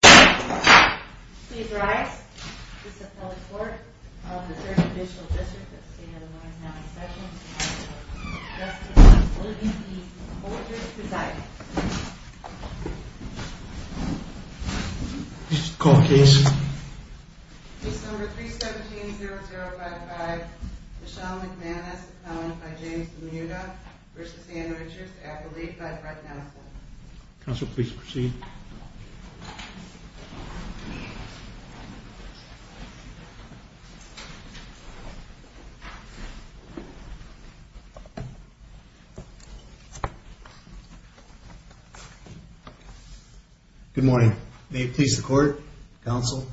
Please rise, Mr. Public Court of the 3rd Judicial District of the State of Illinois is now in session. Mr. Court, please proceed. Mr. Court, please. Case number 317-0055, Michelle McManus accompanied by James DeMuda v. Anne Richards, accoladed by Brett Nassel. Counsel, please proceed. Good morning. May it please the Court, Counsel.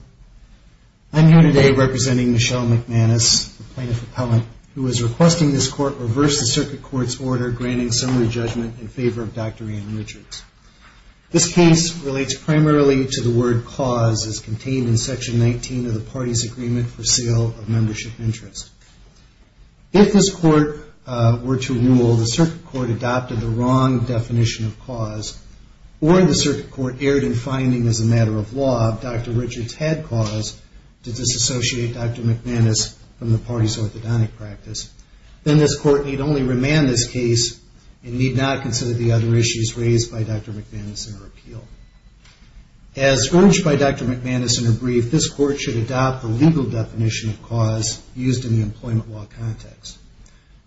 I am here today representing Michelle McManus, a plaintiff appellant, who is requesting this Court reverse the Circuit Court's order granting summary judgment in favor of Dr. Anne Richards. This case relates primarily to the word cause as contained in Section 19 of the Party's Agreement for Seal of Membership Interest. If this Court were to rule the Circuit Court adopted the wrong definition of cause, or the Circuit Court erred in finding as a matter of law that Dr. Richards had cause to disassociate Dr. McManus from the Party's orthodontic practice, then this Court need only remand this case and need not consider the other issues raised by Dr. McManus in her appeal. As urged by Dr. McManus in her brief, this Court should adopt the legal definition of cause used in the employment law context.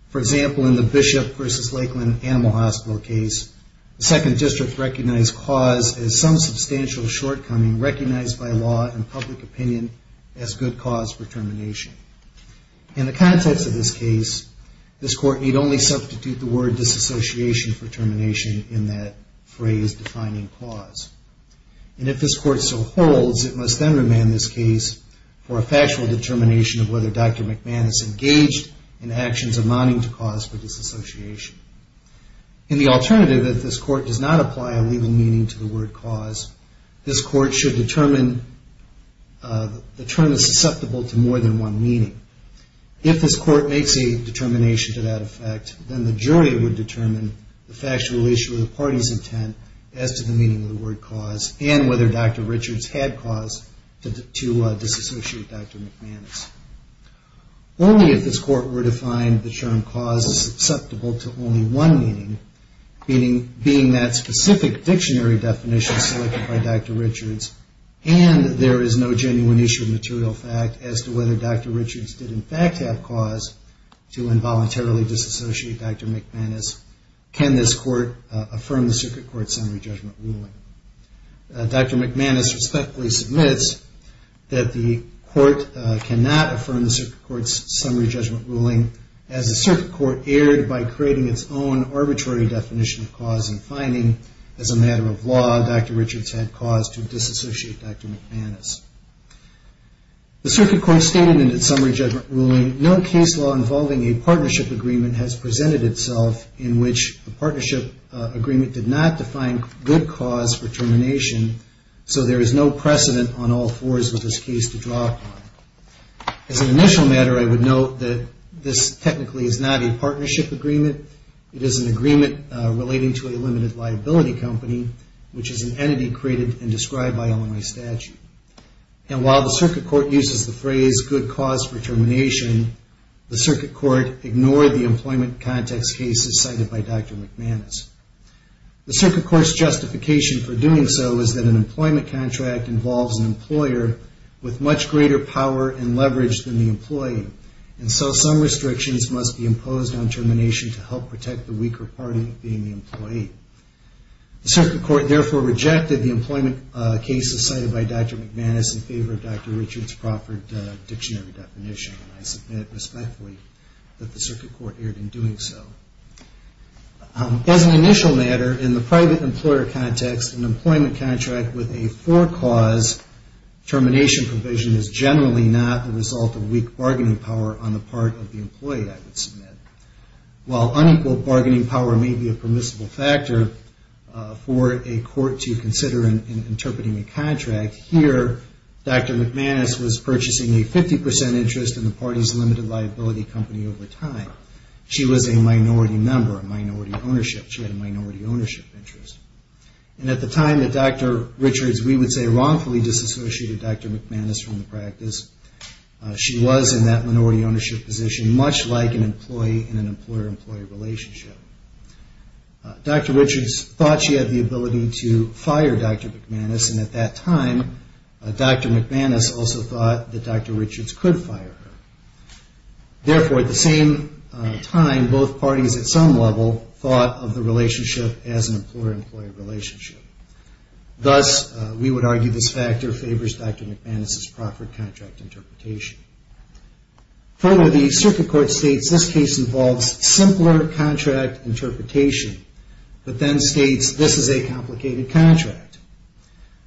For example, in the Bishop v. Lakeland Animal Hospital case, the 2nd District recognized cause as some substantial shortcoming recognized by law and public opinion as good cause for termination. In the context of this case, this Court need only substitute the word disassociation for termination in that phrase defining cause. And if this Court so holds, it must then remand this case for a factual determination of whether Dr. McManus engaged in actions amounting to cause for disassociation. In the alternative, if this Court does not apply a legal meaning to the word cause, this Court should determine the term is susceptible to more than one meaning. If this Court makes a determination to that effect, then the jury would determine the factual issue of the Party's intent as to the meaning of the word cause and whether Dr. Richards had cause to disassociate Dr. McManus. Only if this Court were to find the term cause susceptible to only one meaning, meaning being that specific dictionary definition selected by Dr. Richards, and there is no genuine issue of material fact as to whether Dr. Richards did in fact have cause to involuntarily disassociate Dr. McManus, can this Court affirm the Circuit Court Summary Judgment ruling. Dr. McManus respectfully submits that the Court cannot affirm the Circuit Court's Summary Judgment ruling, as the Circuit Court erred by creating its own arbitrary definition of cause and finding as a matter of law Dr. Richards had cause to disassociate Dr. McManus. The Circuit Court stated in its Summary Judgment ruling, No case law involving a partnership agreement has presented itself in which the partnership agreement did not define good cause for termination, so there is no precedent on all fours for this case to draw upon. As an initial matter, I would note that this technically is not a partnership agreement. It is an agreement relating to a limited liability company, which is an entity created and described by Illinois statute. And while the Circuit Court uses the phrase good cause for termination, the Circuit Court ignored the employment context cases cited by Dr. McManus. The Circuit Court's justification for doing so is that an employment contract involves an employer with much greater power and leverage than the employee, and so some restrictions must be imposed on termination to help protect the weaker party being the employee. The Circuit Court therefore rejected the employment cases cited by Dr. McManus in favor of Dr. Richards' Crawford dictionary definition, and I submit respectfully that the Circuit Court erred in doing so. As an initial matter, in the private employer context, an employment contract with a for-cause termination provision is generally not the result of weak bargaining power on the part of the employee, I would submit. While unequal bargaining power may be a permissible factor for a court to consider in interpreting a contract, here Dr. McManus was purchasing a 50% interest in the party's limited liability company over time. She was a minority member, a minority ownership. She had a minority ownership interest. And at the time that Dr. Richards, we would say wrongfully, disassociated Dr. McManus from the practice, she was in that minority ownership position much like an employee in an employer-employee relationship. Dr. Richards thought she had the ability to fire Dr. McManus, and at that time Dr. McManus also thought that Dr. Richards could fire her. Therefore, at the same time, both parties at some level thought of the relationship as an employer-employee relationship. Thus, we would argue this factor favors Dr. McManus's proffered contract interpretation. Further, the circuit court states this case involves simpler contract interpretation, but then states this is a complicated contract.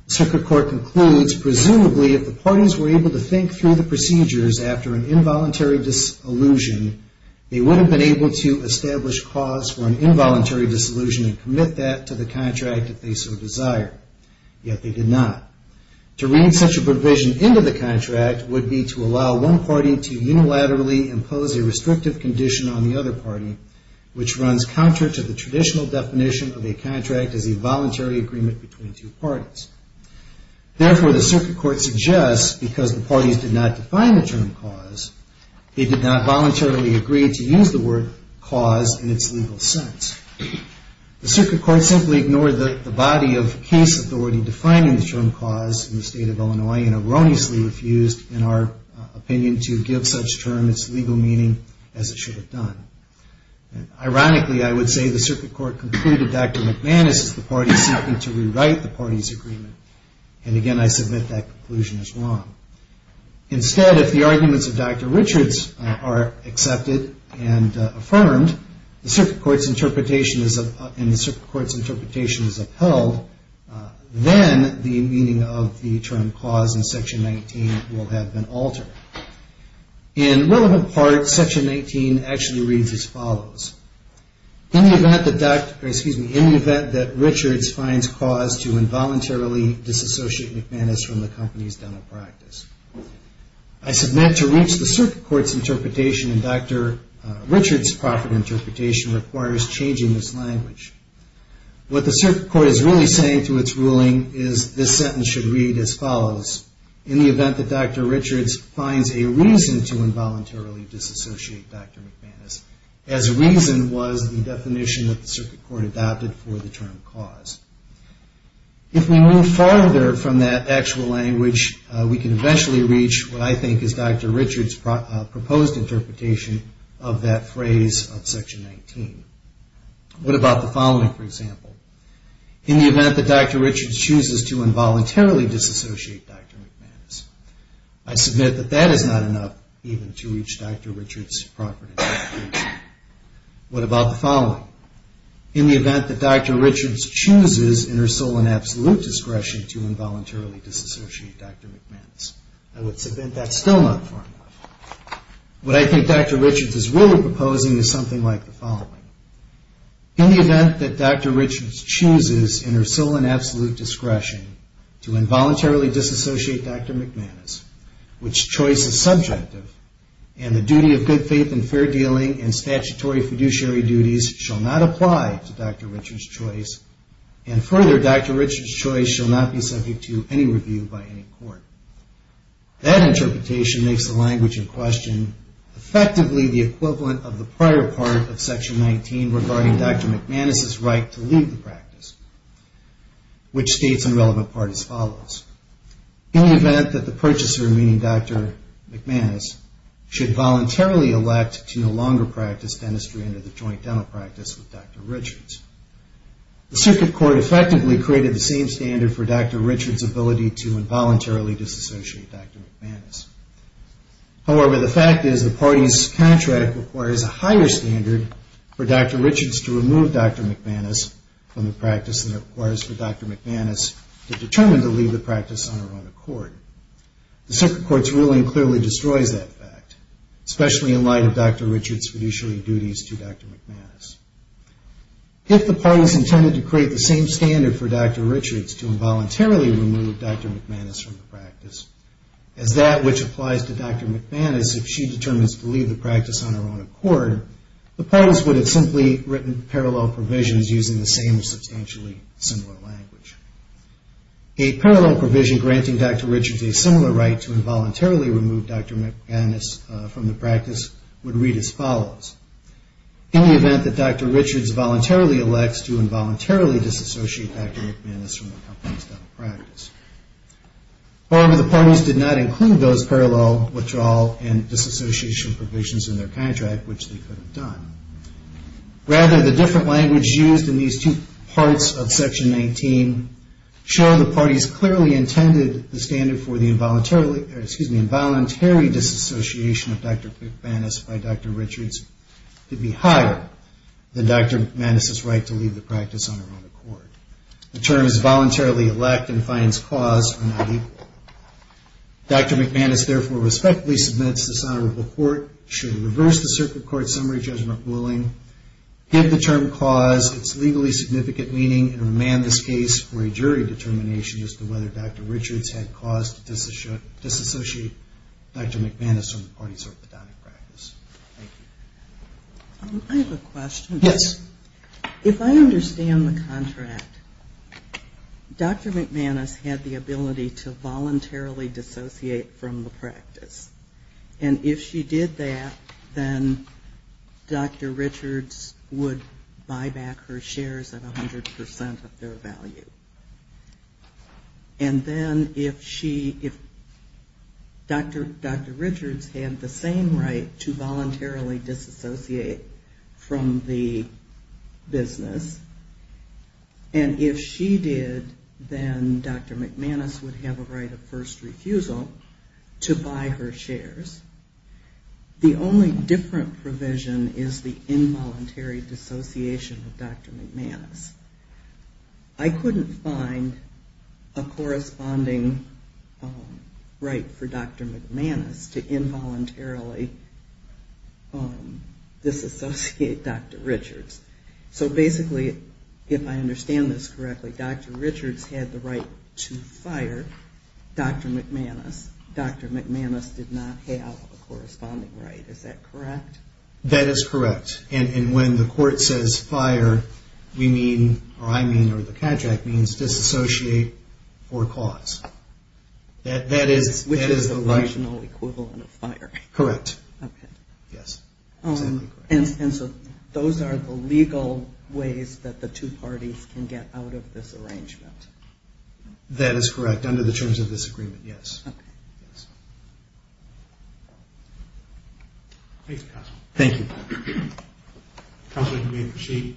The circuit court concludes presumably if the parties were able to think through the procedures after an involuntary disillusion, they would have been able to establish cause for an involuntary disillusion and commit that to the contract if they so desired. Yet they did not. To read such a provision into the contract would be to allow one party to unilaterally impose a restrictive condition on the other party, which runs counter to the traditional definition of a contract as a voluntary agreement between two parties. Therefore, the circuit court suggests because the parties did not define the term cause, they did not voluntarily agree to use the word cause in its legal sense. The circuit court simply ignored the body of case authority defining the term cause in the state of Illinois and erroneously refused, in our opinion, to give such term its legal meaning as it should have done. Ironically, I would say the circuit court concluded Dr. McManus is the party seeking to rewrite the party's agreement. And again, I submit that conclusion is wrong. Instead, if the arguments of Dr. Richards are accepted and affirmed, and the circuit court's interpretation is upheld, then the meaning of the term cause in Section 19 will have been altered. In relevant parts, Section 19 actually reads as follows. In the event that Richards finds cause to involuntarily disassociate McManus from the company's dental practice, I submit to reach the circuit court's interpretation and Dr. Richards' proper interpretation requires changing this language. What the circuit court is really saying to its ruling is this sentence should read as follows. In the event that Dr. Richards finds a reason to involuntarily disassociate Dr. McManus, as reason was the definition that the circuit court adopted for the term cause. If we move farther from that actual language, we can eventually reach what I think is Dr. Richards' proposed interpretation of that phrase of Section 19. What about the following, for example? In the event that Dr. Richards chooses to involuntarily disassociate Dr. McManus, I submit that that is not enough even to reach Dr. Richards' proper interpretation. What about the following? In the event that Dr. Richards chooses in her sole and absolute discretion to involuntarily disassociate Dr. McManus, I would submit that's still not far enough. What I think Dr. Richards is really proposing is something like the following. In the event that Dr. Richards chooses in her sole and absolute discretion to involuntarily disassociate Dr. McManus, which choice is subjective and the duty of good faith and fair dealing and statutory fiduciary duties shall not apply to Dr. Richards' choice and further Dr. Richards' choice shall not be subject to any review by any court. That interpretation makes the language in question effectively the equivalent of the prior part of Section 19 regarding Dr. McManus' right to leave the practice, which states in relevant part as follows. In the event that the purchaser, meaning Dr. McManus, should voluntarily elect to no longer practice dentistry under the joint dental practice with Dr. Richards, the circuit court effectively created the same standard for Dr. Richards' ability to involuntarily disassociate Dr. McManus. However, the fact is the party's contract requires a higher standard for Dr. Richards to remove Dr. McManus from the practice than it requires for Dr. McManus to determine to leave the practice on her own accord. The circuit court's ruling clearly destroys that fact, especially in light of Dr. Richards' fiduciary duties to Dr. McManus. If the parties intended to create the same standard for Dr. Richards to involuntarily remove Dr. McManus from the practice, as that which applies to Dr. McManus if she determines to leave the practice on her own accord, the parties would have simply written parallel provisions using the same substantially similar language. A parallel provision granting Dr. Richards a similar right to involuntarily remove Dr. McManus from the practice would read as follows. In the event that Dr. Richards voluntarily elects to involuntarily disassociate Dr. McManus from the company's dental practice. However, the parties did not include those parallel withdrawal and disassociation provisions in their contract, which they could have done. Rather, the different language used in these two parts of Section 19 show the parties clearly intended the standard for the involuntary disassociation of Dr. McManus by Dr. Richards to be higher than Dr. McManus' right to leave the practice on her own accord. The terms voluntarily elect and finds cause are not equal. Dr. McManus therefore respectfully submits this honorable court should reverse the circuit court summary judgment ruling, give the term cause its legally significant meaning, and remand this case for a jury determination as to whether Dr. Richards had cause to disassociate Dr. McManus from the party's orthodontic practice. Thank you. I have a question. Yes. If I understand the contract, Dr. McManus had the ability to voluntarily dissociate from the practice. And if she did that, then Dr. Richards would buy back her shares at 100% of their value. And then if she, if Dr. Richards had the same right to voluntarily disassociate from the business, and if she did, then Dr. McManus would have a right of first refusal to buy her shares. The only different provision is the involuntary dissociation of Dr. McManus. I couldn't find a corresponding right for Dr. McManus to involuntarily disassociate Dr. Richards. So basically, if I understand this correctly, Dr. Richards had the right to fire Dr. McManus. Dr. McManus did not have a corresponding right. Is that correct? That is correct. And when the court says fire, we mean, or I mean, or the contract means, disassociate for cause. Which is the rational equivalent of fire. Correct. Okay. Yes. And so those are the legal ways that the two parties can get out of this arrangement. That is correct, under the terms of this agreement, yes. Okay. Yes. Thank you. Thank you. Counselor, you may proceed.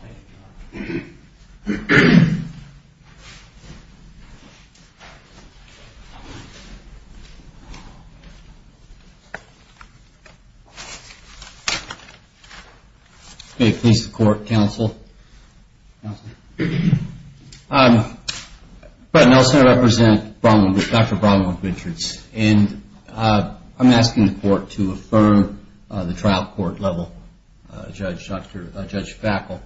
Thank you, Your Honor. May it please the Court, Counsel? Counselor? Brett Nelson, I represent Dr. Bromwell Richards. And I'm asking the Court to affirm the trial court level, Judge Fackel.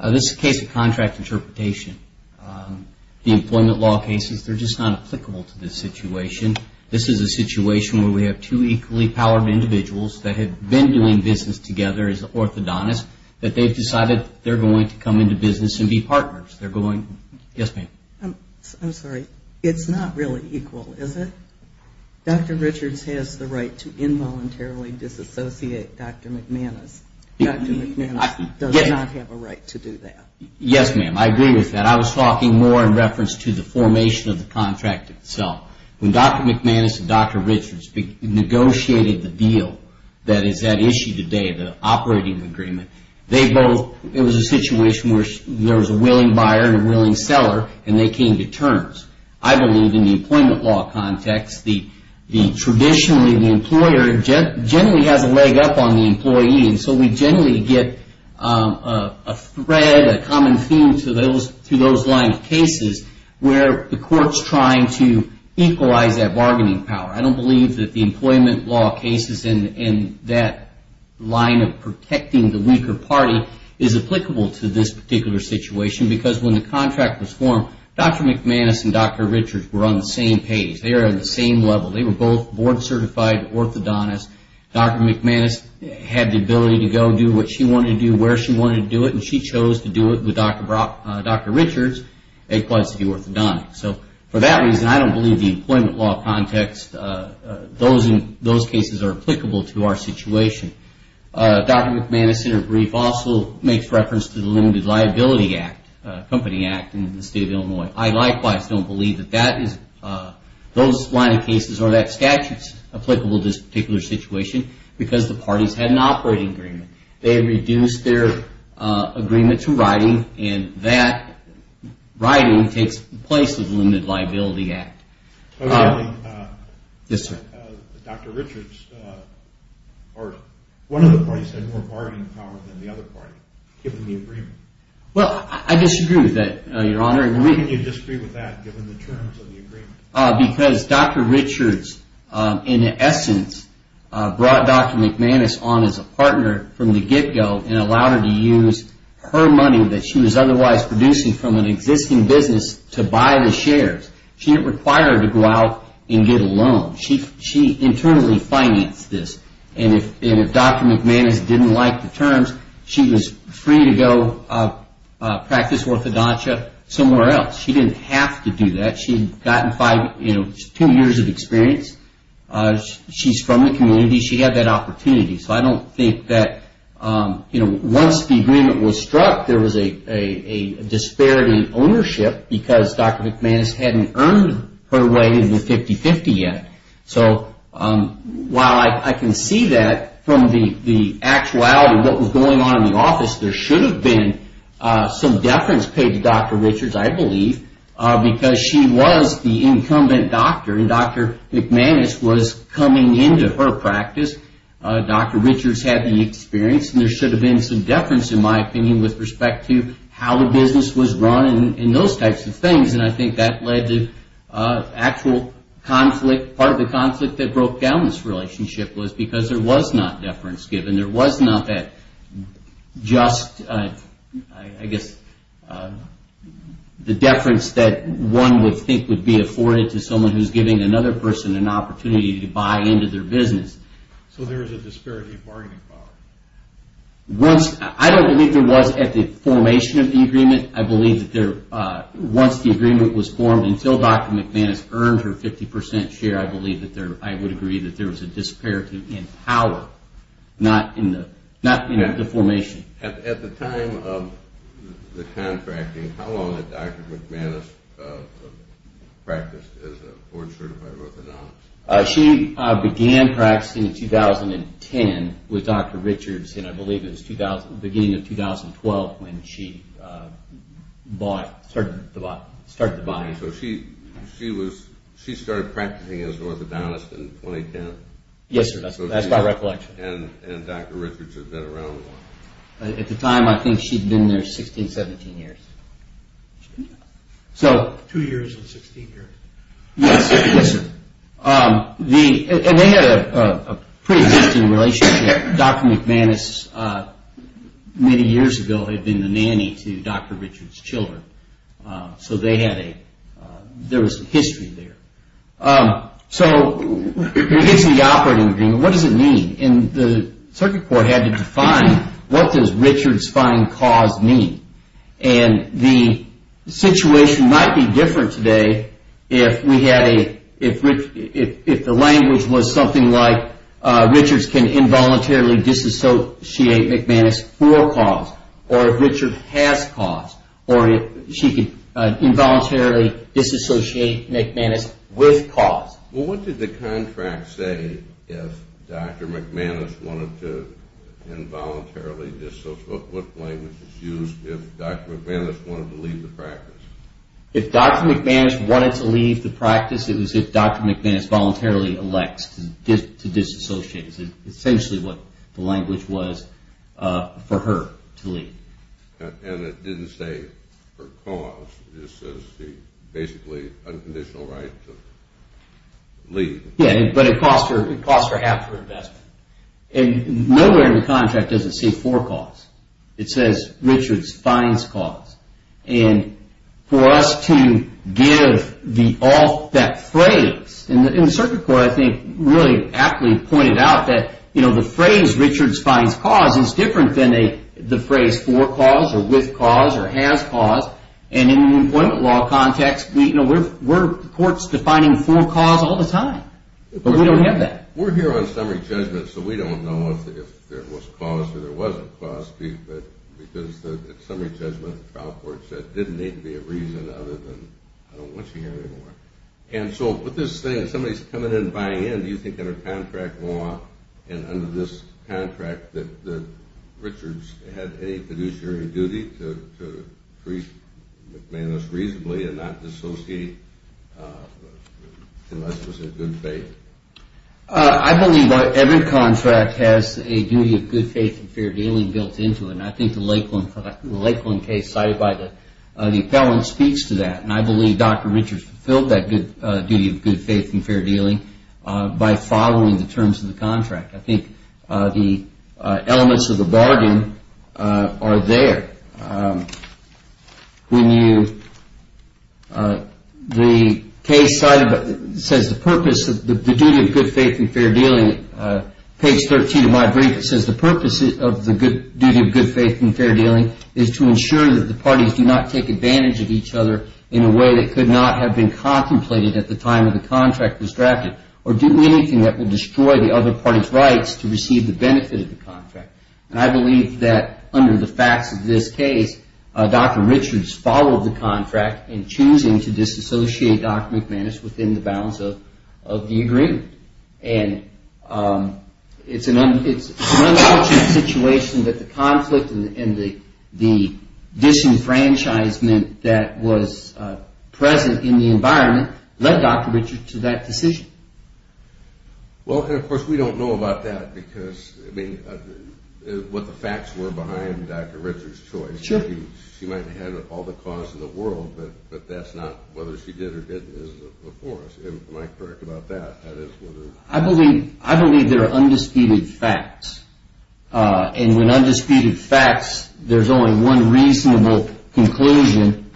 This is a case of contract interpretation. The employment law cases, they're just not applicable to this situation. This is a situation where we have two equally-powered individuals that have been doing business together as orthodontists, that they've decided they're going to come into business and be partners. They're going, yes, ma'am? I'm sorry. It's not really equal, is it? Dr. Richards has the right to involuntarily disassociate Dr. McManus. Dr. McManus does not have a right to do that. Yes, ma'am. I agree with that. I was talking more in reference to the formation of the contract itself. When Dr. McManus and Dr. Richards negotiated the deal that is at issue today, the operating agreement, they both, it was a situation where there was a willing buyer and a willing seller, and they came to terms. I believe in the employment law context, traditionally the employer generally has a leg up on the employee, and so we generally get a thread, a common theme to those lines of cases where the court's trying to equalize that bargaining power. I don't believe that the employment law cases in that line of protecting the weaker party is applicable to this particular situation, because when the contract was formed, Dr. McManus and Dr. Richards were on the same page. They were on the same level. They were both board-certified orthodontists. Dr. McManus had the ability to go do what she wanted to do, where she wanted to do it, and she chose to do it with Dr. Richards. It was the orthodontics. So for that reason, I don't believe the employment law context, those cases are applicable to our situation. Dr. McManus' interbrief also makes reference to the Limited Liability Act, Company Act in the state of Illinois. I likewise don't believe that those line of cases or that statute is applicable to this particular situation, because the parties had an operating agreement. They had reduced their agreement to writing, and that writing takes place with the Limited Liability Act. Well, I disagree with that, Your Honor. How can you disagree with that, given the terms of the agreement? Because Dr. Richards, in essence, brought Dr. McManus on as a partner from the get-go and allowed her to use her money that she was otherwise producing from an existing business to buy the shares. She didn't require her to go out and get a loan. She internally financed this, and if Dr. McManus didn't like the terms, she was free to go practice orthodontia somewhere else. She didn't have to do that. She had gotten two years of experience. She's from the community. She had that opportunity. So I don't think that once the agreement was struck, there was a disparity in ownership because Dr. McManus hadn't earned her way into the 50-50 yet. So while I can see that from the actuality of what was going on in the office, there should have been some deference paid to Dr. Richards, I believe, because she was the incumbent doctor, and Dr. McManus was coming into her practice. Dr. Richards had the experience, and there should have been some deference, in my opinion, with respect to how the business was run and those types of things. And I think that led to actual conflict. Part of the conflict that broke down this relationship was because there was not deference given. There was not that just, I guess, the deference that one would think would be afforded to someone who's giving another person an opportunity to buy into their business. So there was a disparity in bargaining power? I don't believe there was at the formation of the agreement. I believe that once the agreement was formed, until Dr. McManus earned her 50% share, I would agree that there was a disparity in power, not in the formation. At the time of the contracting, how long had Dr. McManus practiced as a board certified orthodontist? She began practicing in 2010 with Dr. Richards, and I believe it was the beginning of 2012 when she started the body. So she started practicing as an orthodontist in 2010? Yes, sir. That's my recollection. And Dr. Richards had been around a while? At the time, I think she'd been there 16, 17 years. Two years and 16 years. Yes, sir. And they had a pretty interesting relationship. Dr. McManus, many years ago, had been the nanny to Dr. Richards' children. So there was a history there. So what is the operating agreement? What does it mean? The circuit court had to define what does Richards' fine cause mean? And the situation might be different today if the language was something like Richards can involuntarily disassociate McManus for a cause, or if Richards has cause, or if she could involuntarily disassociate McManus with cause. Well, what did the contract say if Dr. McManus wanted to involuntarily disassociate? What language was used if Dr. McManus wanted to leave the practice? If Dr. McManus wanted to leave the practice, it was if Dr. McManus voluntarily elects to disassociate. That's essentially what the language was for her to leave. And it didn't say for cause. It just says she basically has unconditional right to leave. Yes, but it costs her half her investment. Nowhere in the contract does it say for cause. It says Richards' fines cause. And for us to give that phrase, and the circuit court, I think, really aptly pointed out that, you know, the phrase Richards' fines cause is different than the phrase for cause, or with cause, or has cause. And in an employment law context, you know, we're courts defining for cause all the time. But we don't have that. We're here on summary judgment, so we don't know if there was cause or there wasn't cause, because the summary judgment, the trial court said, didn't need to be a reason other than I don't want you here anymore. And so with this thing, somebody's coming in and buying in, do you think under contract law, and under this contract, that Richards had any fiduciary duty to treat McManus reasonably and not dissociate unless it was in good faith? I believe every contract has a duty of good faith and fair dealing built into it. And I think the Lakeland case cited by the appellant speaks to that. And I believe Dr. Richards fulfilled that duty of good faith and fair dealing by following the terms of the contract. I think the elements of the bargain are there. The case says the duty of good faith and fair dealing, page 13 of my brief, it says the purpose of the duty of good faith and fair dealing is to ensure that the parties do not take advantage of each other in a way that could not have been contemplated at the time of the contract was drafted or do anything that would destroy the other party's rights to receive the benefit of the contract. And I believe that under the facts of this case, Dr. Richards followed the contract in choosing to disassociate Dr. McManus within the bounds of the agreement. And it's an unfortunate situation that the conflict and the disenfranchisement that was present in the environment led Dr. Richards to that decision. Well, and of course we don't know about that because, I mean, what the facts were behind Dr. Richards' choice. She might have had all the cause in the world, but that's not whether she did or didn't is before us. Am I correct about that? I believe there are undisputed facts. And when undisputed facts, there's only one reasonable conclusion.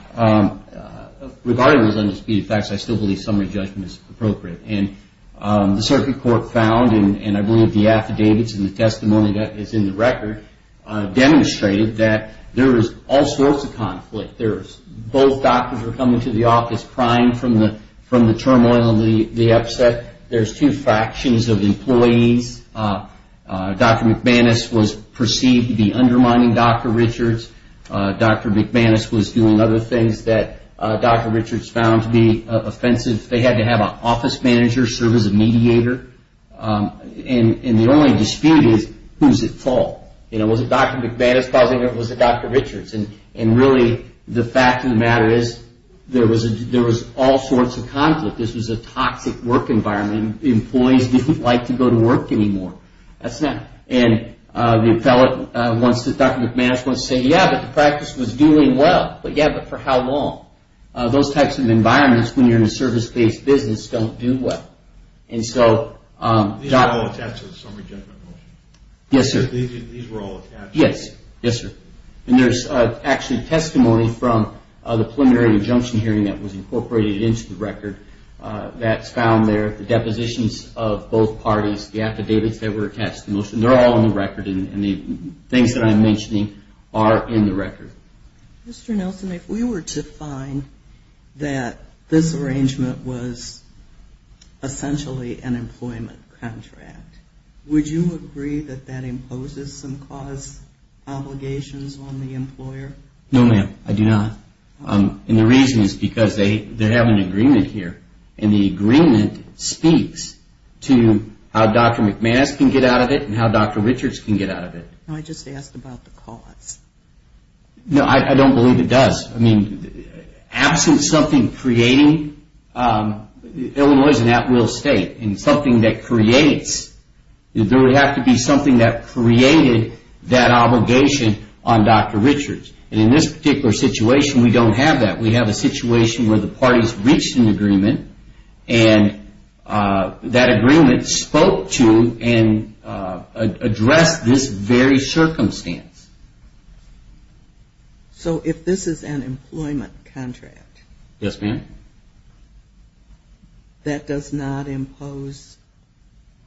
Regarding those undisputed facts, I still believe summary judgment is appropriate. And the circuit court found, and I believe the affidavits and the testimony that is in the record demonstrated that there is all sorts of conflict. Both doctors were coming to the office crying from the turmoil and the upset. There's two factions of employees. Dr. McManus was perceived to be undermining Dr. Richards. Dr. McManus was doing other things that Dr. Richards found to be offensive. They had to have an office manager serve as a mediator. And the only dispute is who's at fault? Was it Dr. McManus causing it or was it Dr. Richards? And really, the fact of the matter is there was all sorts of conflict. This was a toxic work environment. Employees didn't like to go to work anymore. That's that. And Dr. McManus wants to say, yeah, but the practice was doing well. But yeah, but for how long? Those types of environments when you're in a service-based business don't do well. And so... These are all attached to the summary judgment motion? Yes, sir. These were all attached? Yes. Yes, sir. And there's actually testimony from the preliminary injunction hearing that was incorporated into the record that's found there. The depositions of both parties, the affidavits that were attached to the motion, they're all in the record, and the things that I'm mentioning are in the record. Mr. Nelson, if we were to find that this arrangement was essentially an employment contract, would you agree that that imposes some cause obligations on the employer? No, ma'am, I do not. And the reason is because they have an agreement here, and the agreement speaks to how Dr. McManus can get out of it and how Dr. Richards can get out of it. I just asked about the cause. No, I don't believe it does. I mean, absent something creating, Illinois is an at-will state, and something that creates, there would have to be something that created that obligation on Dr. Richards. And in this particular situation, we don't have that. We have a situation where the parties reached an agreement, and that agreement spoke to and addressed this very circumstance. So if this is an employment contract? Yes, ma'am. That does not impose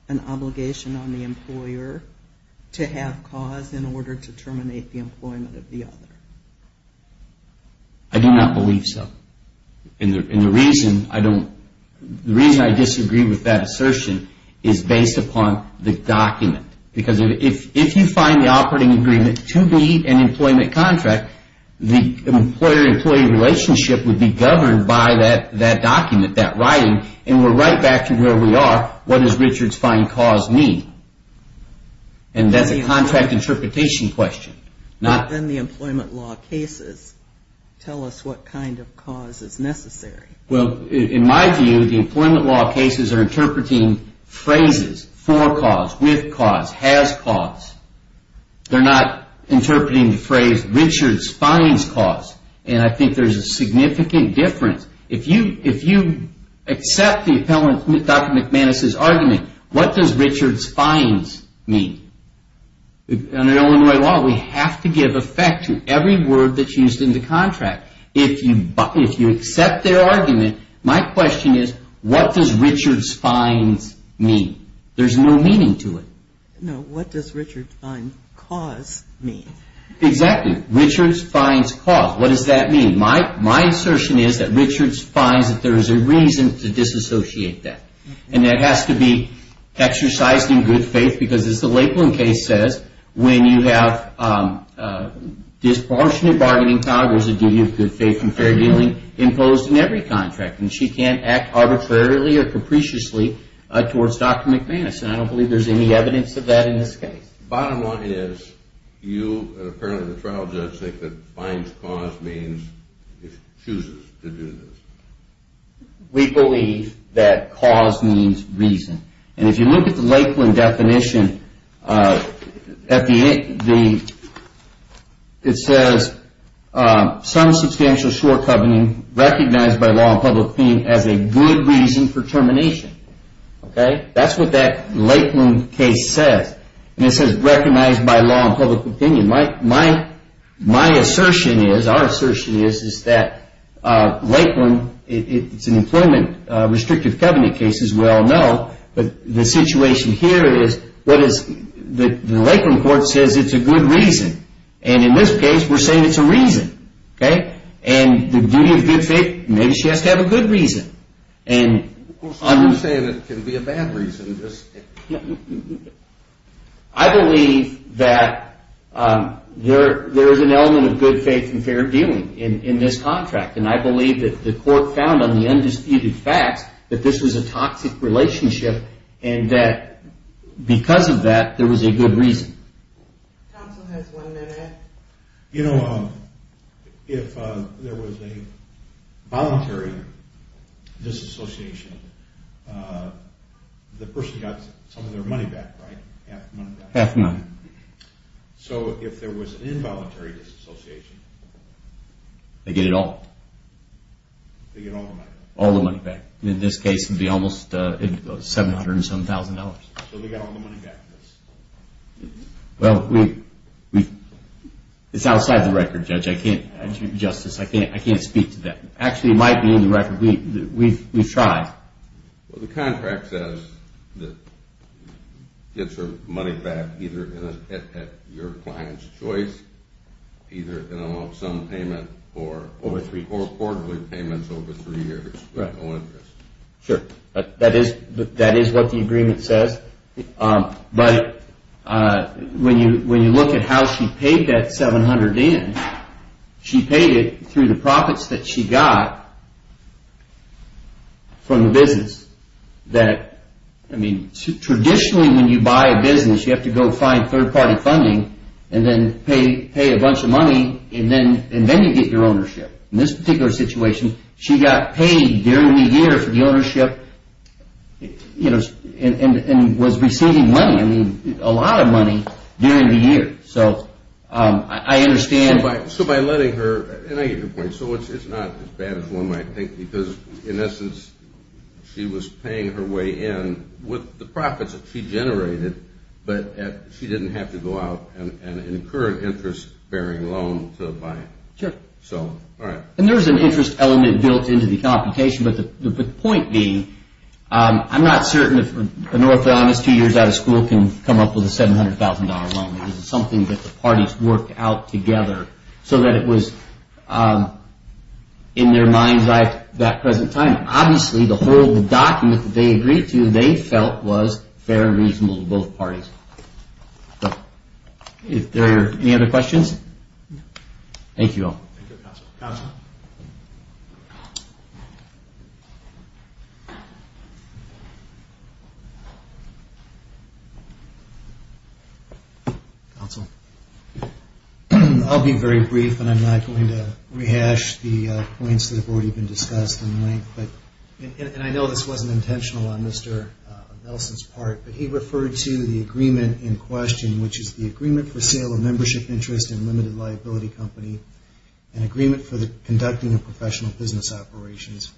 an obligation on the employer to have cause in order to terminate the employment of the other? I do not believe so. And the reason I disagree with that assertion is based upon the document. Because if you find the operating agreement to be an employment contract, the employer-employee relationship would be governed by that document, that writing, and we're right back to where we are. What does Richards find cause mean? And that's a contract interpretation question. Then the employment law cases tell us what kind of cause is necessary. Well, in my view, the employment law cases are interpreting phrases, for cause, with cause, has cause. They're not interpreting the phrase Richards finds cause. And I think there's a significant difference. If you accept the appellant, Dr. McManus' argument, what does Richards finds mean? Under Illinois law, we have to give effect to every word that's used in the contract. If you accept their argument, my question is, what does Richards finds mean? There's no meaning to it. No. What does Richards finds cause mean? Exactly. Richards finds cause. What does that mean? My assertion is that Richards finds that there is a reason to disassociate that. And that has to be exercised in good faith because, as the Lakeland case says, when you have disproportionate bargaining powers that give you good faith and fair dealing imposed in every contract. And she can't act arbitrarily or capriciously towards Dr. McManus. And I don't believe there's any evidence of that in this case. Bottom line is, you, apparently the trial judge, think that finds cause means chooses to do this. We believe that cause means reason. And if you look at the Lakeland definition, it says, some substantial shortcoming recognized by law and public opinion as a good reason for termination. Okay? That's what that Lakeland case says. And it says recognized by law and public opinion. My assertion is, our assertion is, is that Lakeland, it's an employment restrictive covenant case, as we all know. But the situation here is, the Lakeland court says it's a good reason. And in this case, we're saying it's a reason. Okay? And the duty of good faith, maybe she has to have a good reason. Well, some are saying it can be a bad reason. I believe that there is an element of good faith and fair dealing in this contract. And I believe that the court found on the undisputed facts that this was a toxic relationship, and that because of that, there was a good reason. Counsel has one minute. You know, if there was a voluntary disassociation, the person got some of their money back, right? Half the money back. Half the money. So if there was an involuntary disassociation. They get it all. They get all the money back. All the money back. In this case, it would be almost $707,000. So they got all the money back. Well, we – it's outside the record, Judge. I can't – Justice, I can't speak to that. Actually, it might be in the record. We've tried. Well, the contract says that gets her money back either at your client's choice, either in an all-sum payment or a quarterly payment over three years with no interest. Right. Sure. That is what the agreement says. But when you look at how she paid that $700,000 in, she paid it through the profits that she got from the business that – I mean, traditionally when you buy a business, you have to go find third-party funding and then pay a bunch of money, and then you get your ownership. In this particular situation, she got paid during the year for the ownership, and was receiving money, I mean, a lot of money during the year. So I understand – So by letting her – and I get your point. So it's not as bad as one might think because, in essence, she was paying her way in with the profits that she generated, but she didn't have to go out and incur an interest-bearing loan to buy it. Sure. So, all right. And there's an interest element built into the computation, but the point being, I'm not certain if an orthodontist two years out of school can come up with a $700,000 loan. This is something that the parties worked out together so that it was in their minds at that present time. Obviously, the whole document that they agreed to, they felt was fair and reasonable to both parties. Are there any other questions? Thank you all. Thank you, Counselor. Counselor? Counselor? I'll be very brief, and I'm not going to rehash the points that have already been discussed in length. And I know this wasn't intentional on Mr. Nelson's part, but he referred to the agreement in question, which is the agreement for sale of membership interest and limited liability company, an agreement for the conducting of professional business operations,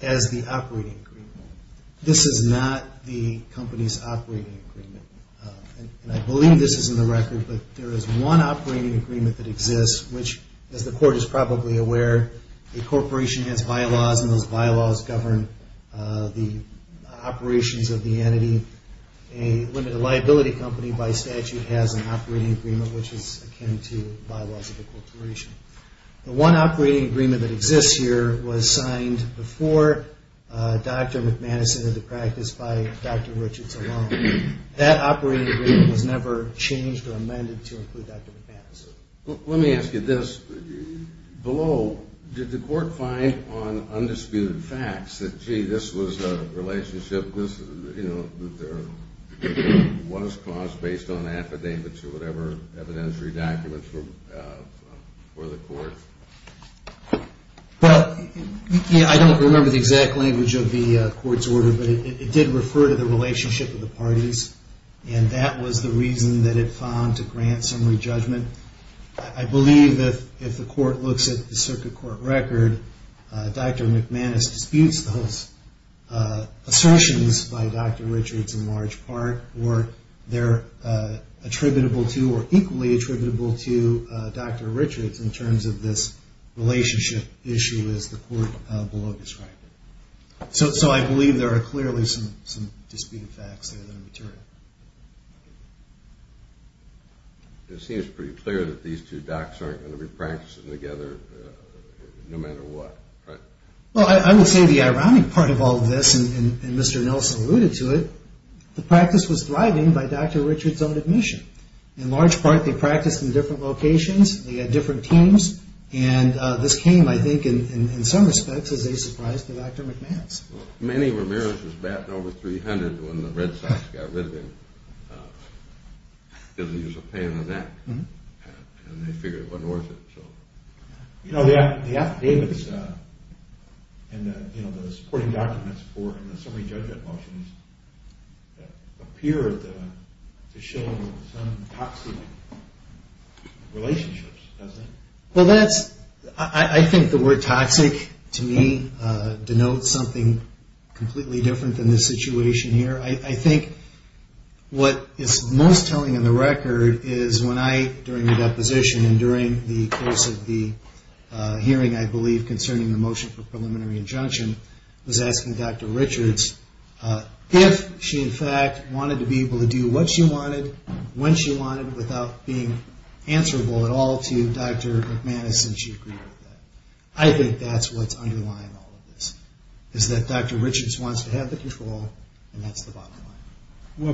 as the operating agreement. This is not the company's operating agreement. And I believe this is in the record, but there is one operating agreement that exists, which, as the Court is probably aware, a corporation has bylaws, and those bylaws govern the operations of the entity. A limited liability company, by statute, has an operating agreement, which is akin to bylaws of acculturation. The one operating agreement that exists here was signed before Dr. McManus entered the practice by Dr. Richards alone. That operating agreement was never changed or amended to include Dr. McManus. Let me ask you this. Below, did the Court find on undisputed facts that, gee, this was a relationship, you know, that there was clause based on affidavits or whatever, evidentiary documents for the Court? Well, I don't remember the exact language of the Court's order, but it did refer to the relationship of the parties, and that was the reason that it found to grant summary judgment. I believe that if the Court looks at the circuit court record, Dr. McManus disputes those assertions by Dr. Richards in large part, or they're attributable to or equally attributable to Dr. Richards in terms of this relationship issue, as the Court below described it. So I believe there are clearly some disputed facts there that are material. It seems pretty clear that these two docs aren't going to be practicing together no matter what, right? Well, I would say the ironic part of all of this, and Mr. Nelson alluded to it, the practice was thriving by Dr. Richards' own admission. In large part, they practiced in different locations, they had different teams, and this came, I think, in some respects as a surprise to Dr. McManus. Well, Manny Ramirez was batting over .300 when the Red Sox got rid of him. It was a pain in the neck, and they figured it wasn't worth it. You know, the affidavits and the supporting documents for the summary judgment motions appear to show some toxic relationships, doesn't it? Well, I think the word toxic to me denotes something completely different than this situation here. I think what is most telling in the record is when I, during the deposition and during the course of the hearing, I believe, concerning the motion for preliminary injunction, was asking Dr. Richards if she, in fact, wanted to be able to do what she wanted, when she wanted, without being answerable at all to Dr. McManus, and she agreed with that. I think that's what's underlying all of this, is that Dr. Richards wants to have the control, and that's the bottom line.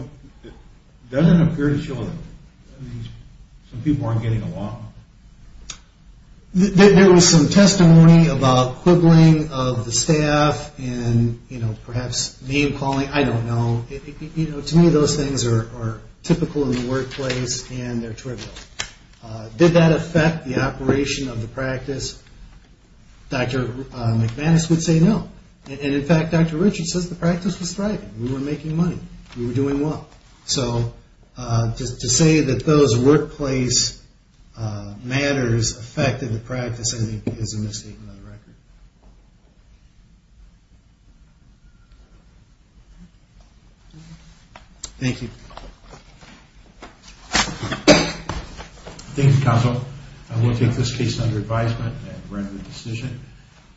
Well, it doesn't appear to show that. I mean, some people aren't getting along. There was some testimony about quibbling of the staff and, you know, perhaps name-calling. I don't know. To me, those things are typical in the workplace, and they're trivial. Did that affect the operation of the practice? Dr. McManus would say no, and, in fact, Dr. Richards says the practice was thriving. We were making money. We were doing well. So just to say that those workplace matters affected the practice, I think, is a mistake on the record. Thank you. Thank you, counsel. I will take this case under advisement and render the decision,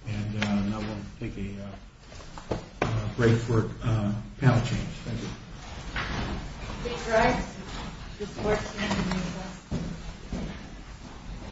and now we'll take a break for panel change. Thank you.